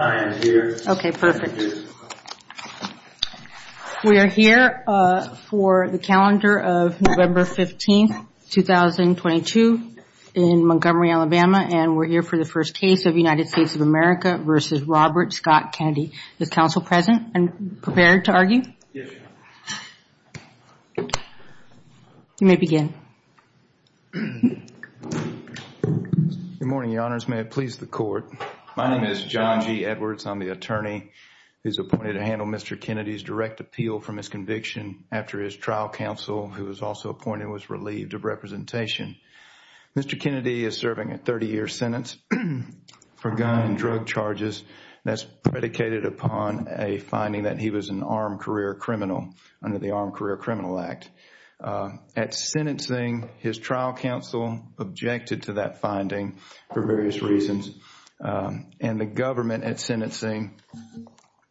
We are here for the calendar of November 15, 2022 in Montgomery, Alabama, and we're here for the first case of United States of America v. Robert Scott Kennedy. Is counsel present and prepared to argue? Yes, Your Honor. You may begin. Good morning, Your Honors. May God please the Court. My name is John G. Edwards. I'm the attorney who's appointed to handle Mr. Kennedy's direct appeal for misconviction after his trial counsel, who was also appointed, was relieved of representation. Mr. Kennedy is serving a 30-year sentence for gun and drug charges. That's predicated upon a finding that he was an armed career criminal under the Armed Career Criminal Act. At sentencing, his trial counsel objected to that finding for various reasons. And the government at sentencing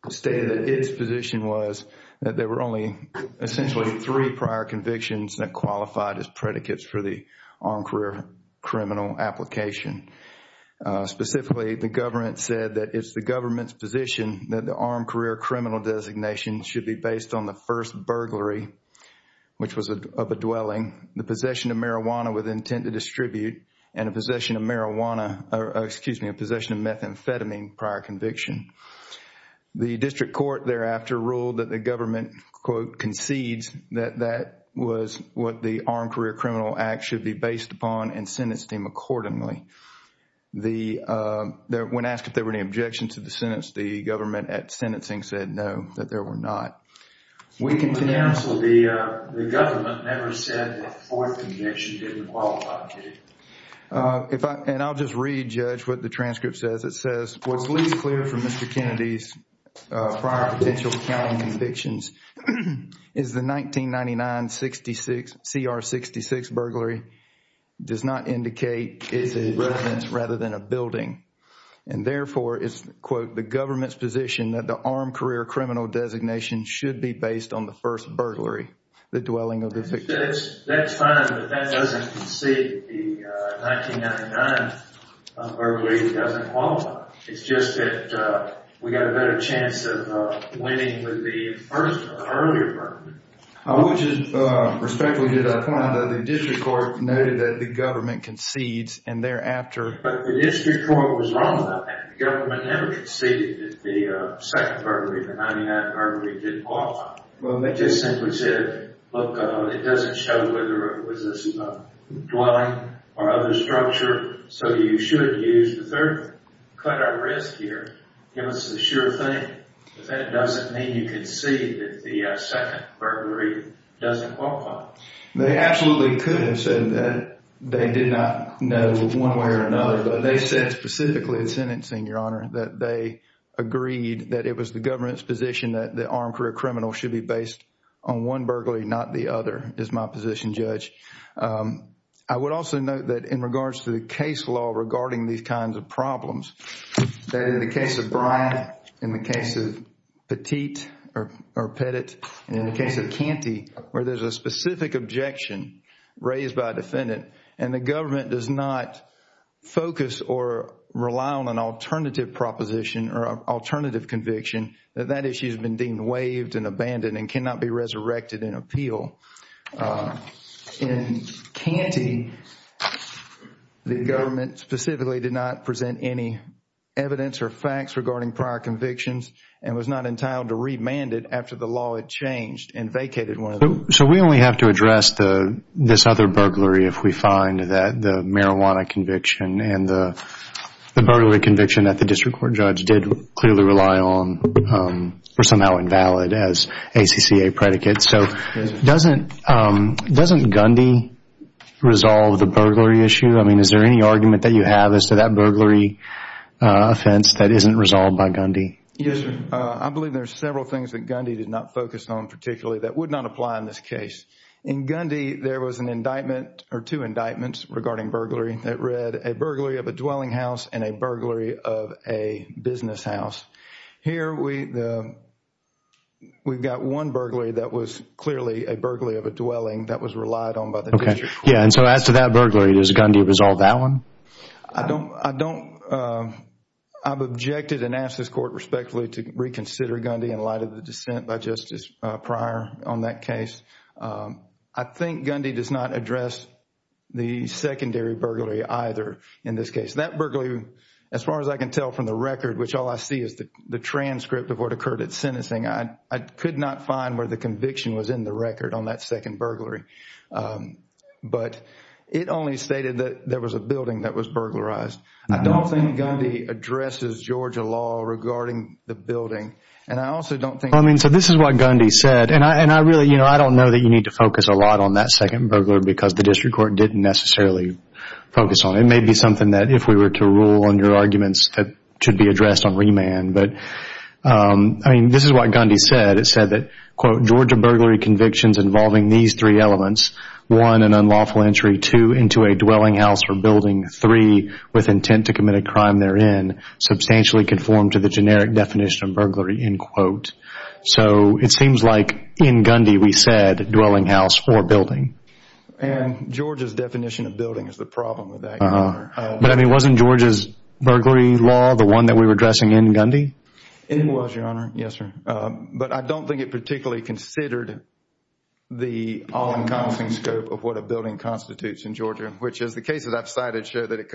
stated that its position was that there were only essentially three prior convictions that qualified as predicates for the armed career criminal application. Specifically, the government said that it's the government's position that the armed career criminal designation should be based on the first burglary, which was of a dwelling, the possession of marijuana with intent to distribute, and a possession of marijuana, excuse me, a possession of methamphetamine prior conviction. The district court thereafter ruled that the government, quote, concedes that that was what the Armed Career Criminal Act should be based upon and sentenced him accordingly. When asked if there were any objections to the sentence, the government at sentencing said no, that there were not. We can cancel the, the government never said the fourth conviction didn't qualify, did it? If I, and I'll just read, Judge, what the transcript says. It says, what's least clear from Mr. Kennedy's prior potential counting convictions is the 1999-66, CR-66 burglary does not indicate it's a residence rather than a building. And therefore, it's, quote, the government's position that the armed career criminal designation should be based on the first burglary, the dwelling of the victim. That's fine, but that doesn't concede that the 1999 burglary doesn't qualify. It's just that we got a better chance of winning with the first, the earlier burglary. Which is, respectfully, did I find that the district court noted that the government concedes and thereafter... But the district court was wrong about that. The government never conceded that the second burglary, the 1999 burglary, didn't qualify. Well, they just simply said, look, it doesn't show whether it was a dwelling or other structure, so you should use the third one. Cut our risk here. Give us the sure thing. But that doesn't mean you concede that the second burglary doesn't qualify. They absolutely could have said that. They did not know one way or another, but they said specifically in sentencing, Your Honor, that they agreed that it was the government's position that the armed career criminal should be based on one burglary, not the other, is my position, Judge. I would also note that in regards to the case law regarding these kinds of problems, that in the case of Bryant, in the case of Petit or Pettit, and in the case of Canty, where there's a specific objection raised by a defendant and the government does not focus or rely on an alternative proposition or alternative conviction, that that issue has been deemed waived and abandoned and cannot be resurrected in appeal. In Canty, the government specifically did not present any evidence or facts regarding prior convictions and was not entitled to remand it after the law had changed and vacated one of them. So we only have to address this other burglary if we find that the marijuana conviction and the burglary conviction that the district court judge did clearly rely on were somehow invalid as ACCA predicates. So doesn't Gundy resolve the burglary issue? I mean, is there any argument that you have as to that burglary offense that isn't resolved by Gundy? Yes, sir. I believe there are several things that Gundy did not focus on particularly that would not apply in this case. In Gundy, there was an indictment or two indictments regarding burglary that read, a burglary of a dwelling house and a burglary of a business house. Here, we've got one burglary that was clearly a burglary of a dwelling that was relied on by the district court. Okay. Yeah, and so as to that burglary, does Gundy resolve that one? I don't, I've objected and asked this court respectfully to reconsider Gundy in light of the dissent by Justice Pryor on that case. I think Gundy does not address the secondary burglary either in this case. That burglary, as far as I can tell from the record, which all I see is the transcript of what occurred at sentencing, I could not find where the conviction was in the record on that second burglary. But it only stated that there was a building that was burglarized. I don't think Gundy addresses Georgia law regarding the second burglary. Well, I mean, so this is what Gundy said. And I really, you know, I don't know that you need to focus a lot on that second burglar because the district court didn't necessarily focus on it. It may be something that if we were to rule on your arguments that should be addressed on remand. But, I mean, this is what Gundy said. It said that, quote, Georgia burglary convictions involving these three elements, one, an unlawful entry, two, into a dwelling house or building, three, with intent to commit a crime therein, substantially conform to the generic definition of burglary, end quote. So it seems like in Gundy we said dwelling house or building. And Georgia's definition of building is the problem with that, Your Honor. But, I mean, wasn't Georgia's burglary law the one that we were addressing in Gundy? It was, Your Honor. Yes, sir. But I don't think it particularly considered the all-encompassing scope of what a building constitutes in Georgia, which is the cases I've cited show that it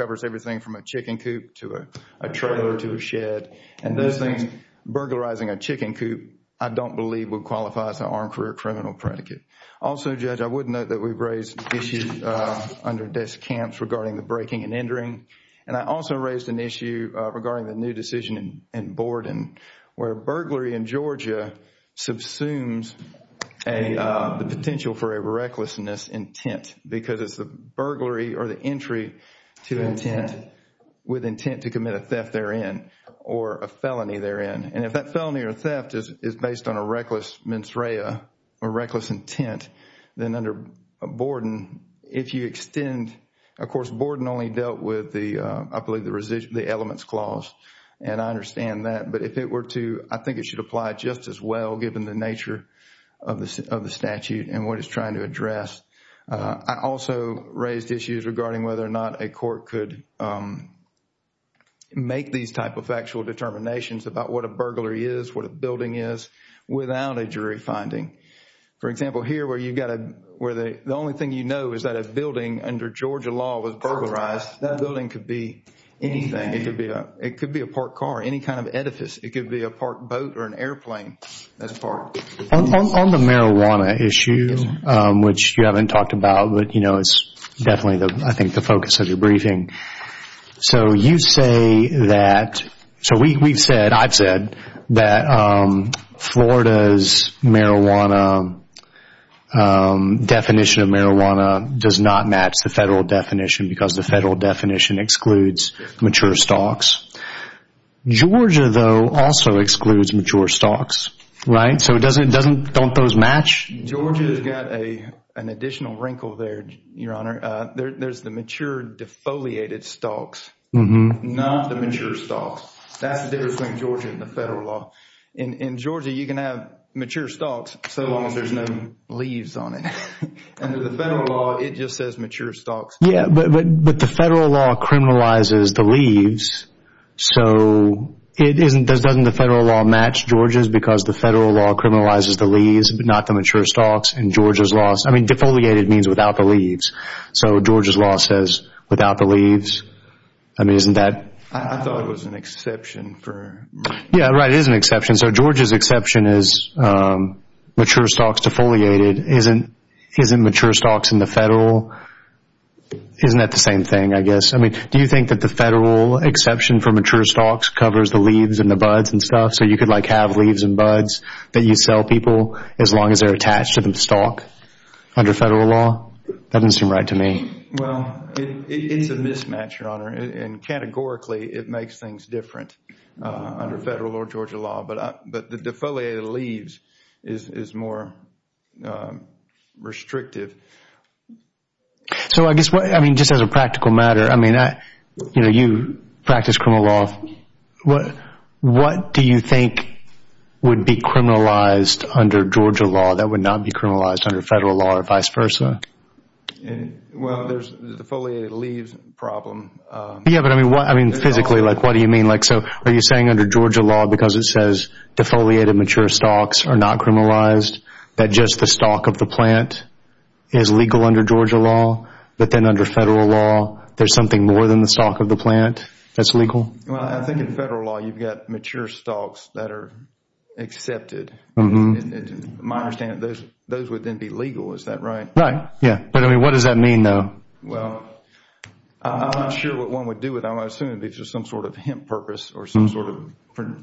And those things, burglarizing a chicken coop, I don't believe would qualify as an armed career criminal predicate. Also, Judge, I would note that we've raised issues under desk camps regarding the breaking and entering. And I also raised an issue regarding the new decision in Borden where burglary in Georgia subsumes the potential for a recklessness intent because it's the burglary or the entry to intent with intent to commit a theft therein or a felony therein. And if that felony or theft is based on a reckless mens rea or reckless intent, then under Borden, if you extend, of course, Borden only dealt with the, I believe, the elements clause. And I understand that. But if it were to, I think it should apply just as well given the nature of the statute and what it's trying to address. I also raised issues regarding whether or not a court could make these type of factual determinations about what a burglar is, what a building is without a jury finding. For example, here where you've got a, where the only thing you know is that a building under Georgia law was burglarized, that building could be anything. It could be a parked car, any kind of edifice. It could be a parked boat or an airplane that's parked. On the marijuana issue, which you haven't talked about, but it's definitely, I think, the focus of your briefing. So you say that, so we've said, I've said, that Florida's marijuana, definition of marijuana does not match the federal definition because the federal definition excludes mature stocks. Georgia, though, also excludes mature stocks, right? So it doesn't, don't those match? Georgia's got an additional wrinkle there, Your Honor. There's the mature defoliated stocks, not the mature stocks. That's the difference between Georgia and the federal law. In Georgia, you can have mature stocks so long as there's no leaves on it. Under the federal law, it just says mature stocks. Yeah, but the federal law criminalizes the leaves. So it isn't, doesn't the federal law match Georgia's because the federal law criminalizes the leaves, but not the mature stocks in Georgia's laws? I mean, defoliated means without the leaves. So Georgia's law says without the leaves. I mean, isn't that? I thought it was an exception for... Yeah, right. It is an exception. So Georgia's exception is mature stocks defoliated isn't mature stocks in the federal. Isn't that the same thing, I guess? I mean, do you think that the federal exception for mature stocks covers the leaves and the buds and stuff? So you could like have leaves and buds that you sell people as long as they're attached to the stock under federal law? That doesn't seem right to me. Well, it's a mismatch, Your Honor. And categorically, it makes things different under federal or Georgia law. But the defoliated leaves is more restrictive. So I guess what, I mean, just as a practical matter, I mean, you know, you practice criminal law. What do you think would be criminalized under Georgia law that would not be criminalized under federal law or vice versa? Well, there's the defoliated leaves problem. Yeah, but I mean, what, I mean, physically, like, what do you mean? Like, so are you saying under Georgia law, because it says defoliated mature stocks are not criminalized, that just the stock of the plant is legal under Georgia law, but then under federal law, there's something more than the stock of the plant that's legal? Well, I think in federal law, you've got mature stocks that are accepted. To my understanding, those would then be legal. Is that right? Right, yeah. But I mean, what does that mean, though? Well, I'm not sure what one would do with them. I assume it would be just some sort of hemp purpose or some sort of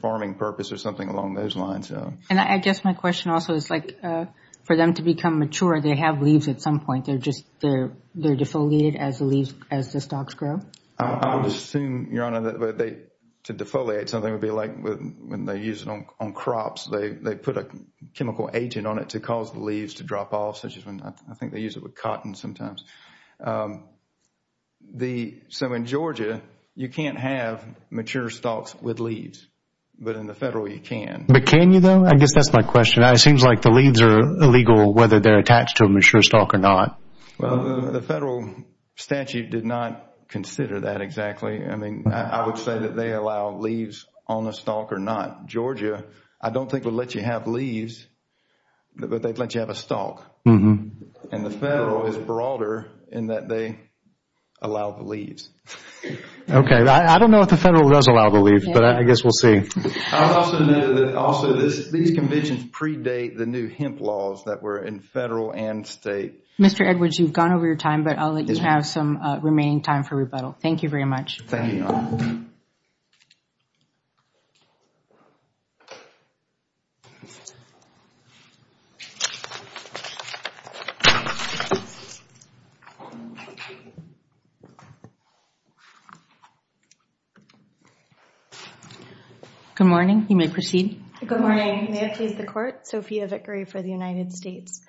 farming purpose or something along those lines. And I guess my question also is, like, for them to become mature, they have leaves at some point. They're just, they're defoliated as the leaves, as the stocks grow? I would assume, Your Honor, that they, to defoliate something would be like when they use it on crops, they put a chemical agent on it to cause the leaves to drop off, such as when, I think they use it with cotton sometimes. The, so in Georgia, you can't have mature stocks with leaves. But in the federal, you can. But can you, though? I guess that's my question. It seems like the leaves are illegal, whether they're attached to a mature stock or not. Well, the federal statute did not consider that exactly. I mean, I would say that they allow leaves on the stock or not. Georgia, I don't think would let you have leaves, but they'd let you have a stock. And the federal is broader in that they allow the leaves. Okay. I don't know if the federal does allow the leaves, but I guess we'll see. I would also note that also these conventions predate the new hemp laws that were in federal and state. Mr. Edwards, you've gone over your time, but I'll let you have some remaining time for rebuttal. Thank you very much. Thank you, Your Honor. Good morning. You may proceed. Good morning. May I please the Court? Sophia Vickery for the United States.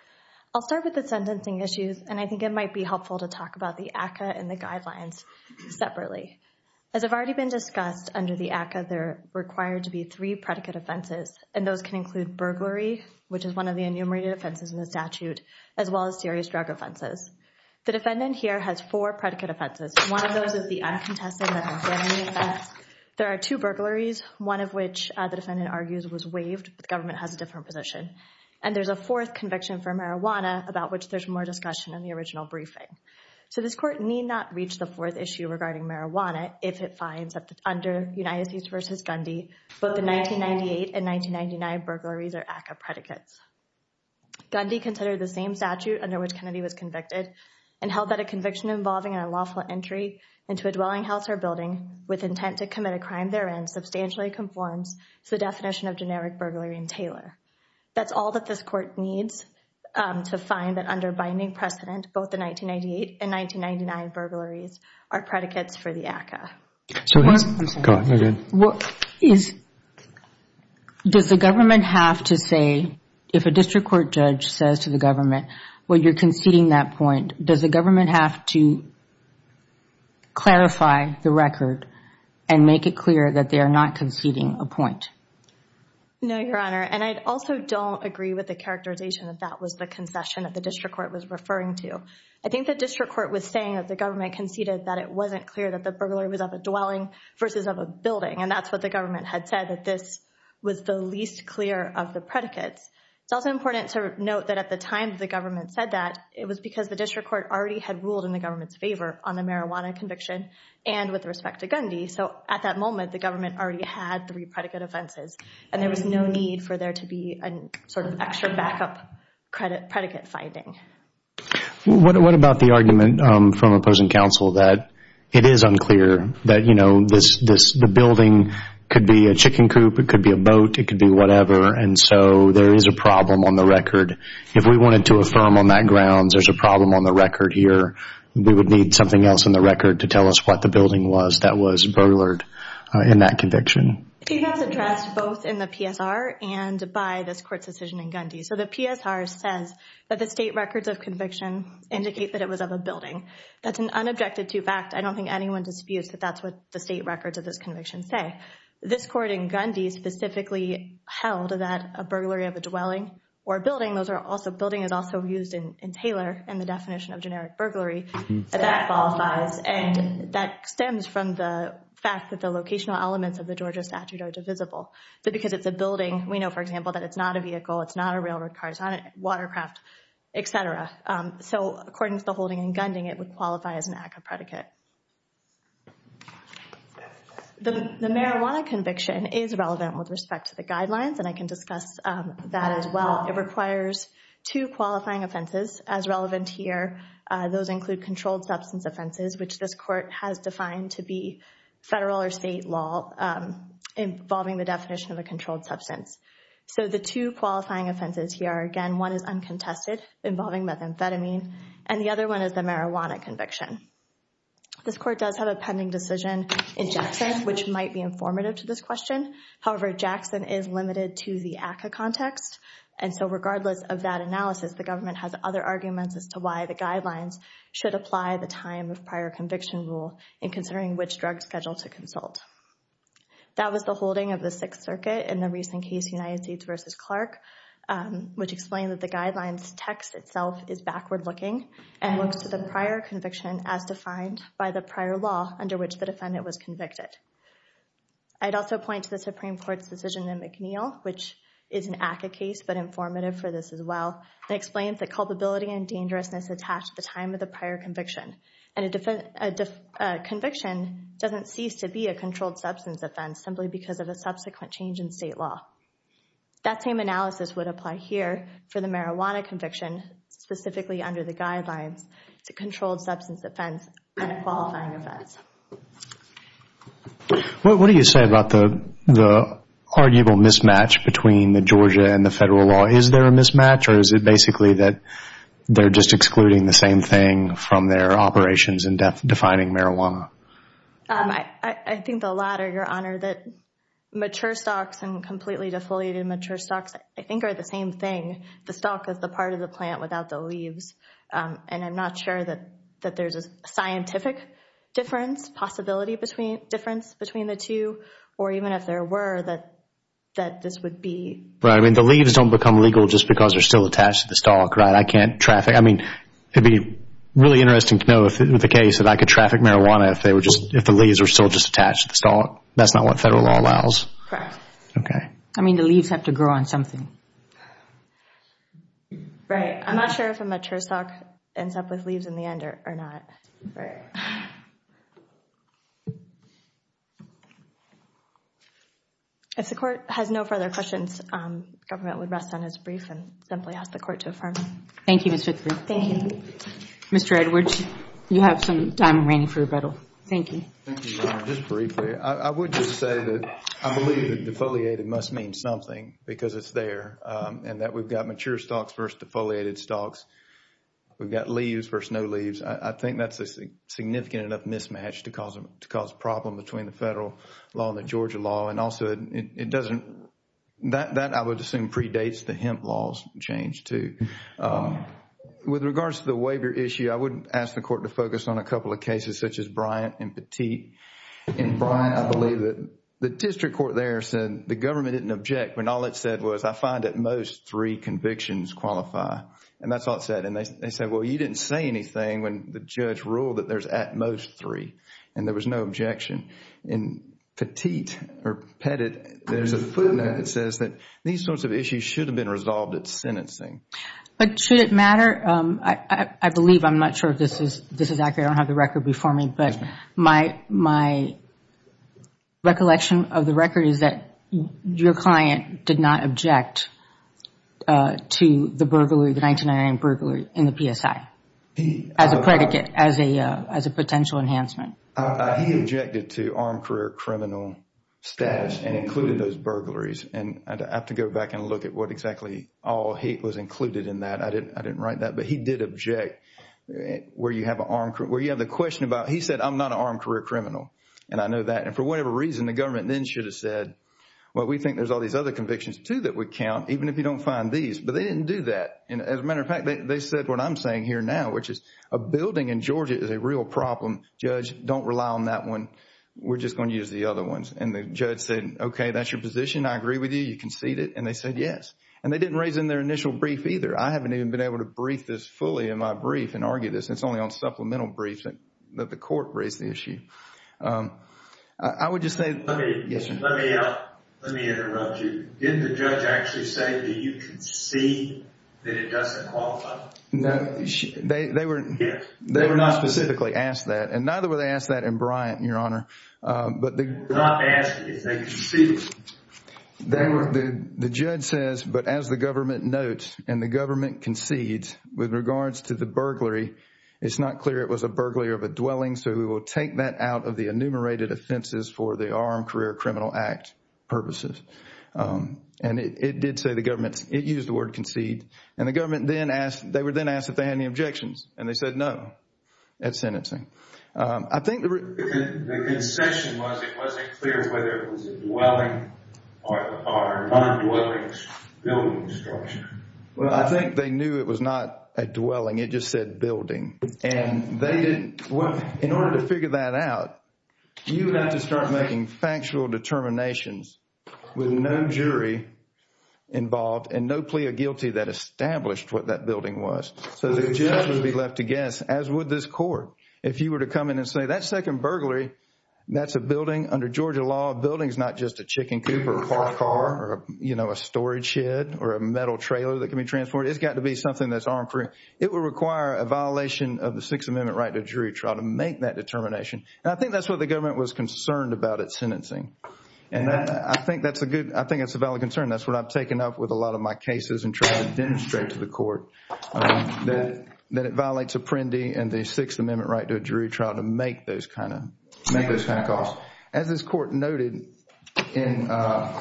I'll start with the sentencing issues, and I think it might be helpful to talk about the ACCA and the guidelines separately. As I've already been discussed under the ACCA, there are required to be three predicate offenses, and those can include burglary, which is one of the enumerated offenses in the statute, as well as serious drug offenses. The defendant here has four predicate offenses. One of those is the uncontested marijuana offense. There are two burglaries, one of which the defendant argues was waived, but the government has a different position. And there's a fourth conviction for marijuana, about which there's more discussion in the original briefing. So this Court need not reach the fourth issue regarding marijuana if it finds that under United States v. Gundy, both the 1998 and 1999 burglaries are ACCA predicates. Gundy considered the same statute under which Kennedy was convicted and held that a conviction involving an unlawful entry into a dwelling house or building with intent to commit a crime therein substantially conforms to the definition of generic burglary and tailor. That's all that this Court needs to find that under binding precedent, both the 1998 and 1999 burglaries are predicates for the ACCA. Go ahead. Does the government have to say, if a district court judge says to the government, well, you're conceding that point, does the government have to clarify the record and make it clear that they are not conceding a point? No, Your Honor. And I also don't agree with the characterization that that was the concession that the district court was referring to. I think the district court was saying that the government conceded that it wasn't clear that the burglar was of a dwelling versus of a building. And that's what the government had said, that this was the least clear of the predicates. It's also important to note that at the time the government said that, it was because the district court already had ruled in the government's favor on the marijuana conviction and with respect to Gundy. So, at that moment, the government already had three predicate offenses and there was no need for there to be an extra backup predicate finding. What about the argument from opposing counsel that it is unclear, that the building could be a chicken coop, it could be a boat, it could be whatever, and so there is a problem on the record. If we wanted to affirm on that grounds there's a problem on the record here, we would need something else on the record to tell us what the building was that was burglared in that conviction. He has addressed both in the PSR and by this court's decision in Gundy. So, the PSR says that the state records of conviction indicate that it was of a building. That's an unobjected to fact. I don't think anyone disputes that that's what the state records of this conviction say. This court in Gundy specifically held that a burglary of a dwelling or a building, those are also, building is also used in Taylor in the definition of generic burglary, that qualifies and that stems from the fact that the locational elements of the Georgia statute are divisible. But because it's a building, we know, for example, that it's not a vehicle, it's not a railroad car, it's not a watercraft, et cetera. So, according to the holding in the marijuana conviction is relevant with respect to the guidelines and I can discuss that as well. It requires two qualifying offenses as relevant here. Those include controlled substance offenses, which this court has defined to be federal or state law involving the definition of a controlled substance. So, the two qualifying offenses here are, again, one is uncontested involving methamphetamine and the other one is the marijuana conviction. This court does have a pending decision in Jackson, which might be informative to this question. However, Jackson is limited to the ACCA context and so regardless of that analysis, the government has other arguments as to why the guidelines should apply the time of prior conviction rule in considering which drug schedule to consult. That was the holding of the Sixth Circuit in the recent case United States v. Clark, which explained that the guidelines text itself is backward looking and looks to the prior conviction as defined by the prior law under which the defendant was convicted. I'd also point to the Supreme Court's decision in McNeil, which is an ACCA case but informative for this as well, that explains the culpability and dangerousness attached to the time of the prior conviction. And a conviction doesn't cease to be a controlled substance offense simply because of a subsequent change in state law. That same analysis would apply here for the marijuana conviction, specifically under the guidelines to controlled substance offense and qualifying offense. What do you say about the arguable mismatch between the Georgia and the federal law? Is there a mismatch or is it basically that they're just excluding the same thing from their operations in defining marijuana? I think the latter, Your Honor. Mature stocks and completely defoliated mature stocks, I don't know about the leaves and I'm not sure that there's a scientific difference, possibility difference between the two or even if there were that this would be. Right, I mean the leaves don't become legal just because they're still attached to the stock, right? I can't traffic, I mean it'd be really interesting to know if in the case that I could traffic marijuana if they were just, if the leaves were still just attached to the stock. That's not what federal law allows. Correct. Okay. I mean the leaves have to grow on something. Right, I'm not sure if a mature stock ends up with leaves in the end or not. If the court has no further questions, government would rest on his brief and simply ask the court to affirm. Thank you, Mr. Griffith. Thank you. Mr. Edwards, you have some time remaining for rebuttal. Thank you. Thank you, Your Honor. Just briefly, I would just say that I believe that defoliated must mean something because it's there and that we've got mature stocks versus defoliated stocks. We've got leaves versus no leaves. I think that's a significant enough mismatch to cause a problem between the federal law and the Georgia law and also it doesn't, that I would assume predates the hemp laws change too. With regards to the waiver issue, I would ask the court to focus on a couple of cases such as Bryant and Petit. In Bryant, I believe the district court there said the government didn't object when all it said was I find at most three convictions qualify and that's all it said. And they said, well, you didn't say anything when the judge ruled that there's at most three and there was no objection. In Petit or Petit, there's a footnote that says that these sorts of issues should have been resolved at sentencing. But should it matter? I believe, I'm not sure if this is accurate. I don't have the record before me but my recollection of the record is that your client did not object to the burglary, the 1999 burglary in the PSI as a predicate, as a potential enhancement. He objected to armed career criminal status and included those burglaries and I'd have to go back and look at what exactly all he was included in that. I didn't write that but he did object where you have the question about, he said, I'm not an armed career criminal and I know that. And for whatever reason, the government then should have said, well, we think there's all these other convictions too that would count even if you don't find these. But they didn't do that. And as a matter of fact, they said what I'm saying here now which is a building in Georgia is a real problem. Judge, don't rely on that one. We're just going to use the other ones. And the judge said, okay, that's your position. I agree with you. You concede it. And they said yes. And they didn't raise in their initial brief either. I haven't even been able to brief this fully in my brief and argue this. It's only on supplemental briefs that the court raised the issue. I would just say, yes, sir. Let me interrupt you. Didn't the judge actually say that you concede that it doesn't qualify? No. They were not specifically asked that. And neither were they asked that in Bryant, and the government concedes. With regards to the burglary, it's not clear it was a burglary of a dwelling, so we will take that out of the enumerated offenses for the Armed Career Criminal Act purposes. And it did say the government – it used the word concede. And the government then asked – they were then asked if they had any objections. And they said no at sentencing. I think the – The concession was it wasn't clear whether it Well, I think they knew it was not a dwelling. It just said building. And they didn't – in order to figure that out, you have to start making factual determinations with no jury involved and no plea of guilty that established what that building was. So the judge would be left to guess, as would this court. If you were to come in and say that's second burglary, that's a building under Georgia law. A building is not just a chicken coop or a car or, you know, a storage shed or a metal trailer that can be transported. It's got to be something that's armed for – it would require a violation of the Sixth Amendment right to a jury trial to make that determination. And I think that's what the government was concerned about at sentencing. And I think that's a good – I think that's a valid concern. That's what I've taken up with a lot of my cases and tried to demonstrate to the court, that it violates Apprendi and the Sixth Amendment right to a jury trial to make those kind of – make those kind of calls. As this court noted in one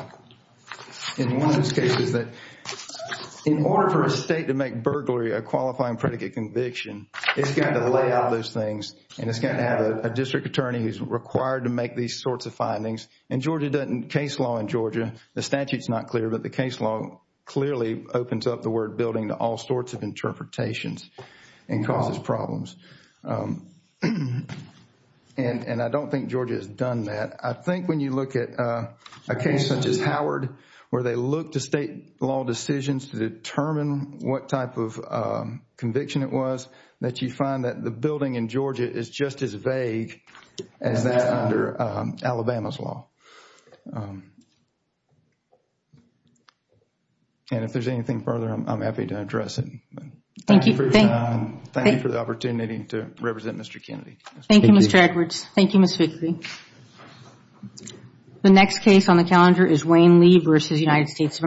of those cases, that in order for a state to make burglary a qualifying predicate conviction, it's got to lay out those things and it's got to have a district attorney who's required to make these sorts of findings. And Georgia doesn't – case law in Georgia, the statute's not clear, but the case law clearly opens up the word building to all sorts of interpretations and causes problems. And I don't think Georgia has done that. I think when you look at a case such as Howard, where they look to state law decisions to determine what type of conviction it was, that you find that the building in Georgia is just as vague as that under Alabama's law. And if there's anything further, I'm happy to address it. Thank you for the opportunity to represent Mr. Kennedy. Thank you, Mr. Edwards. Thank you, Ms. Vickery. The next case on the calendar is Wayne Lee v. United States of America.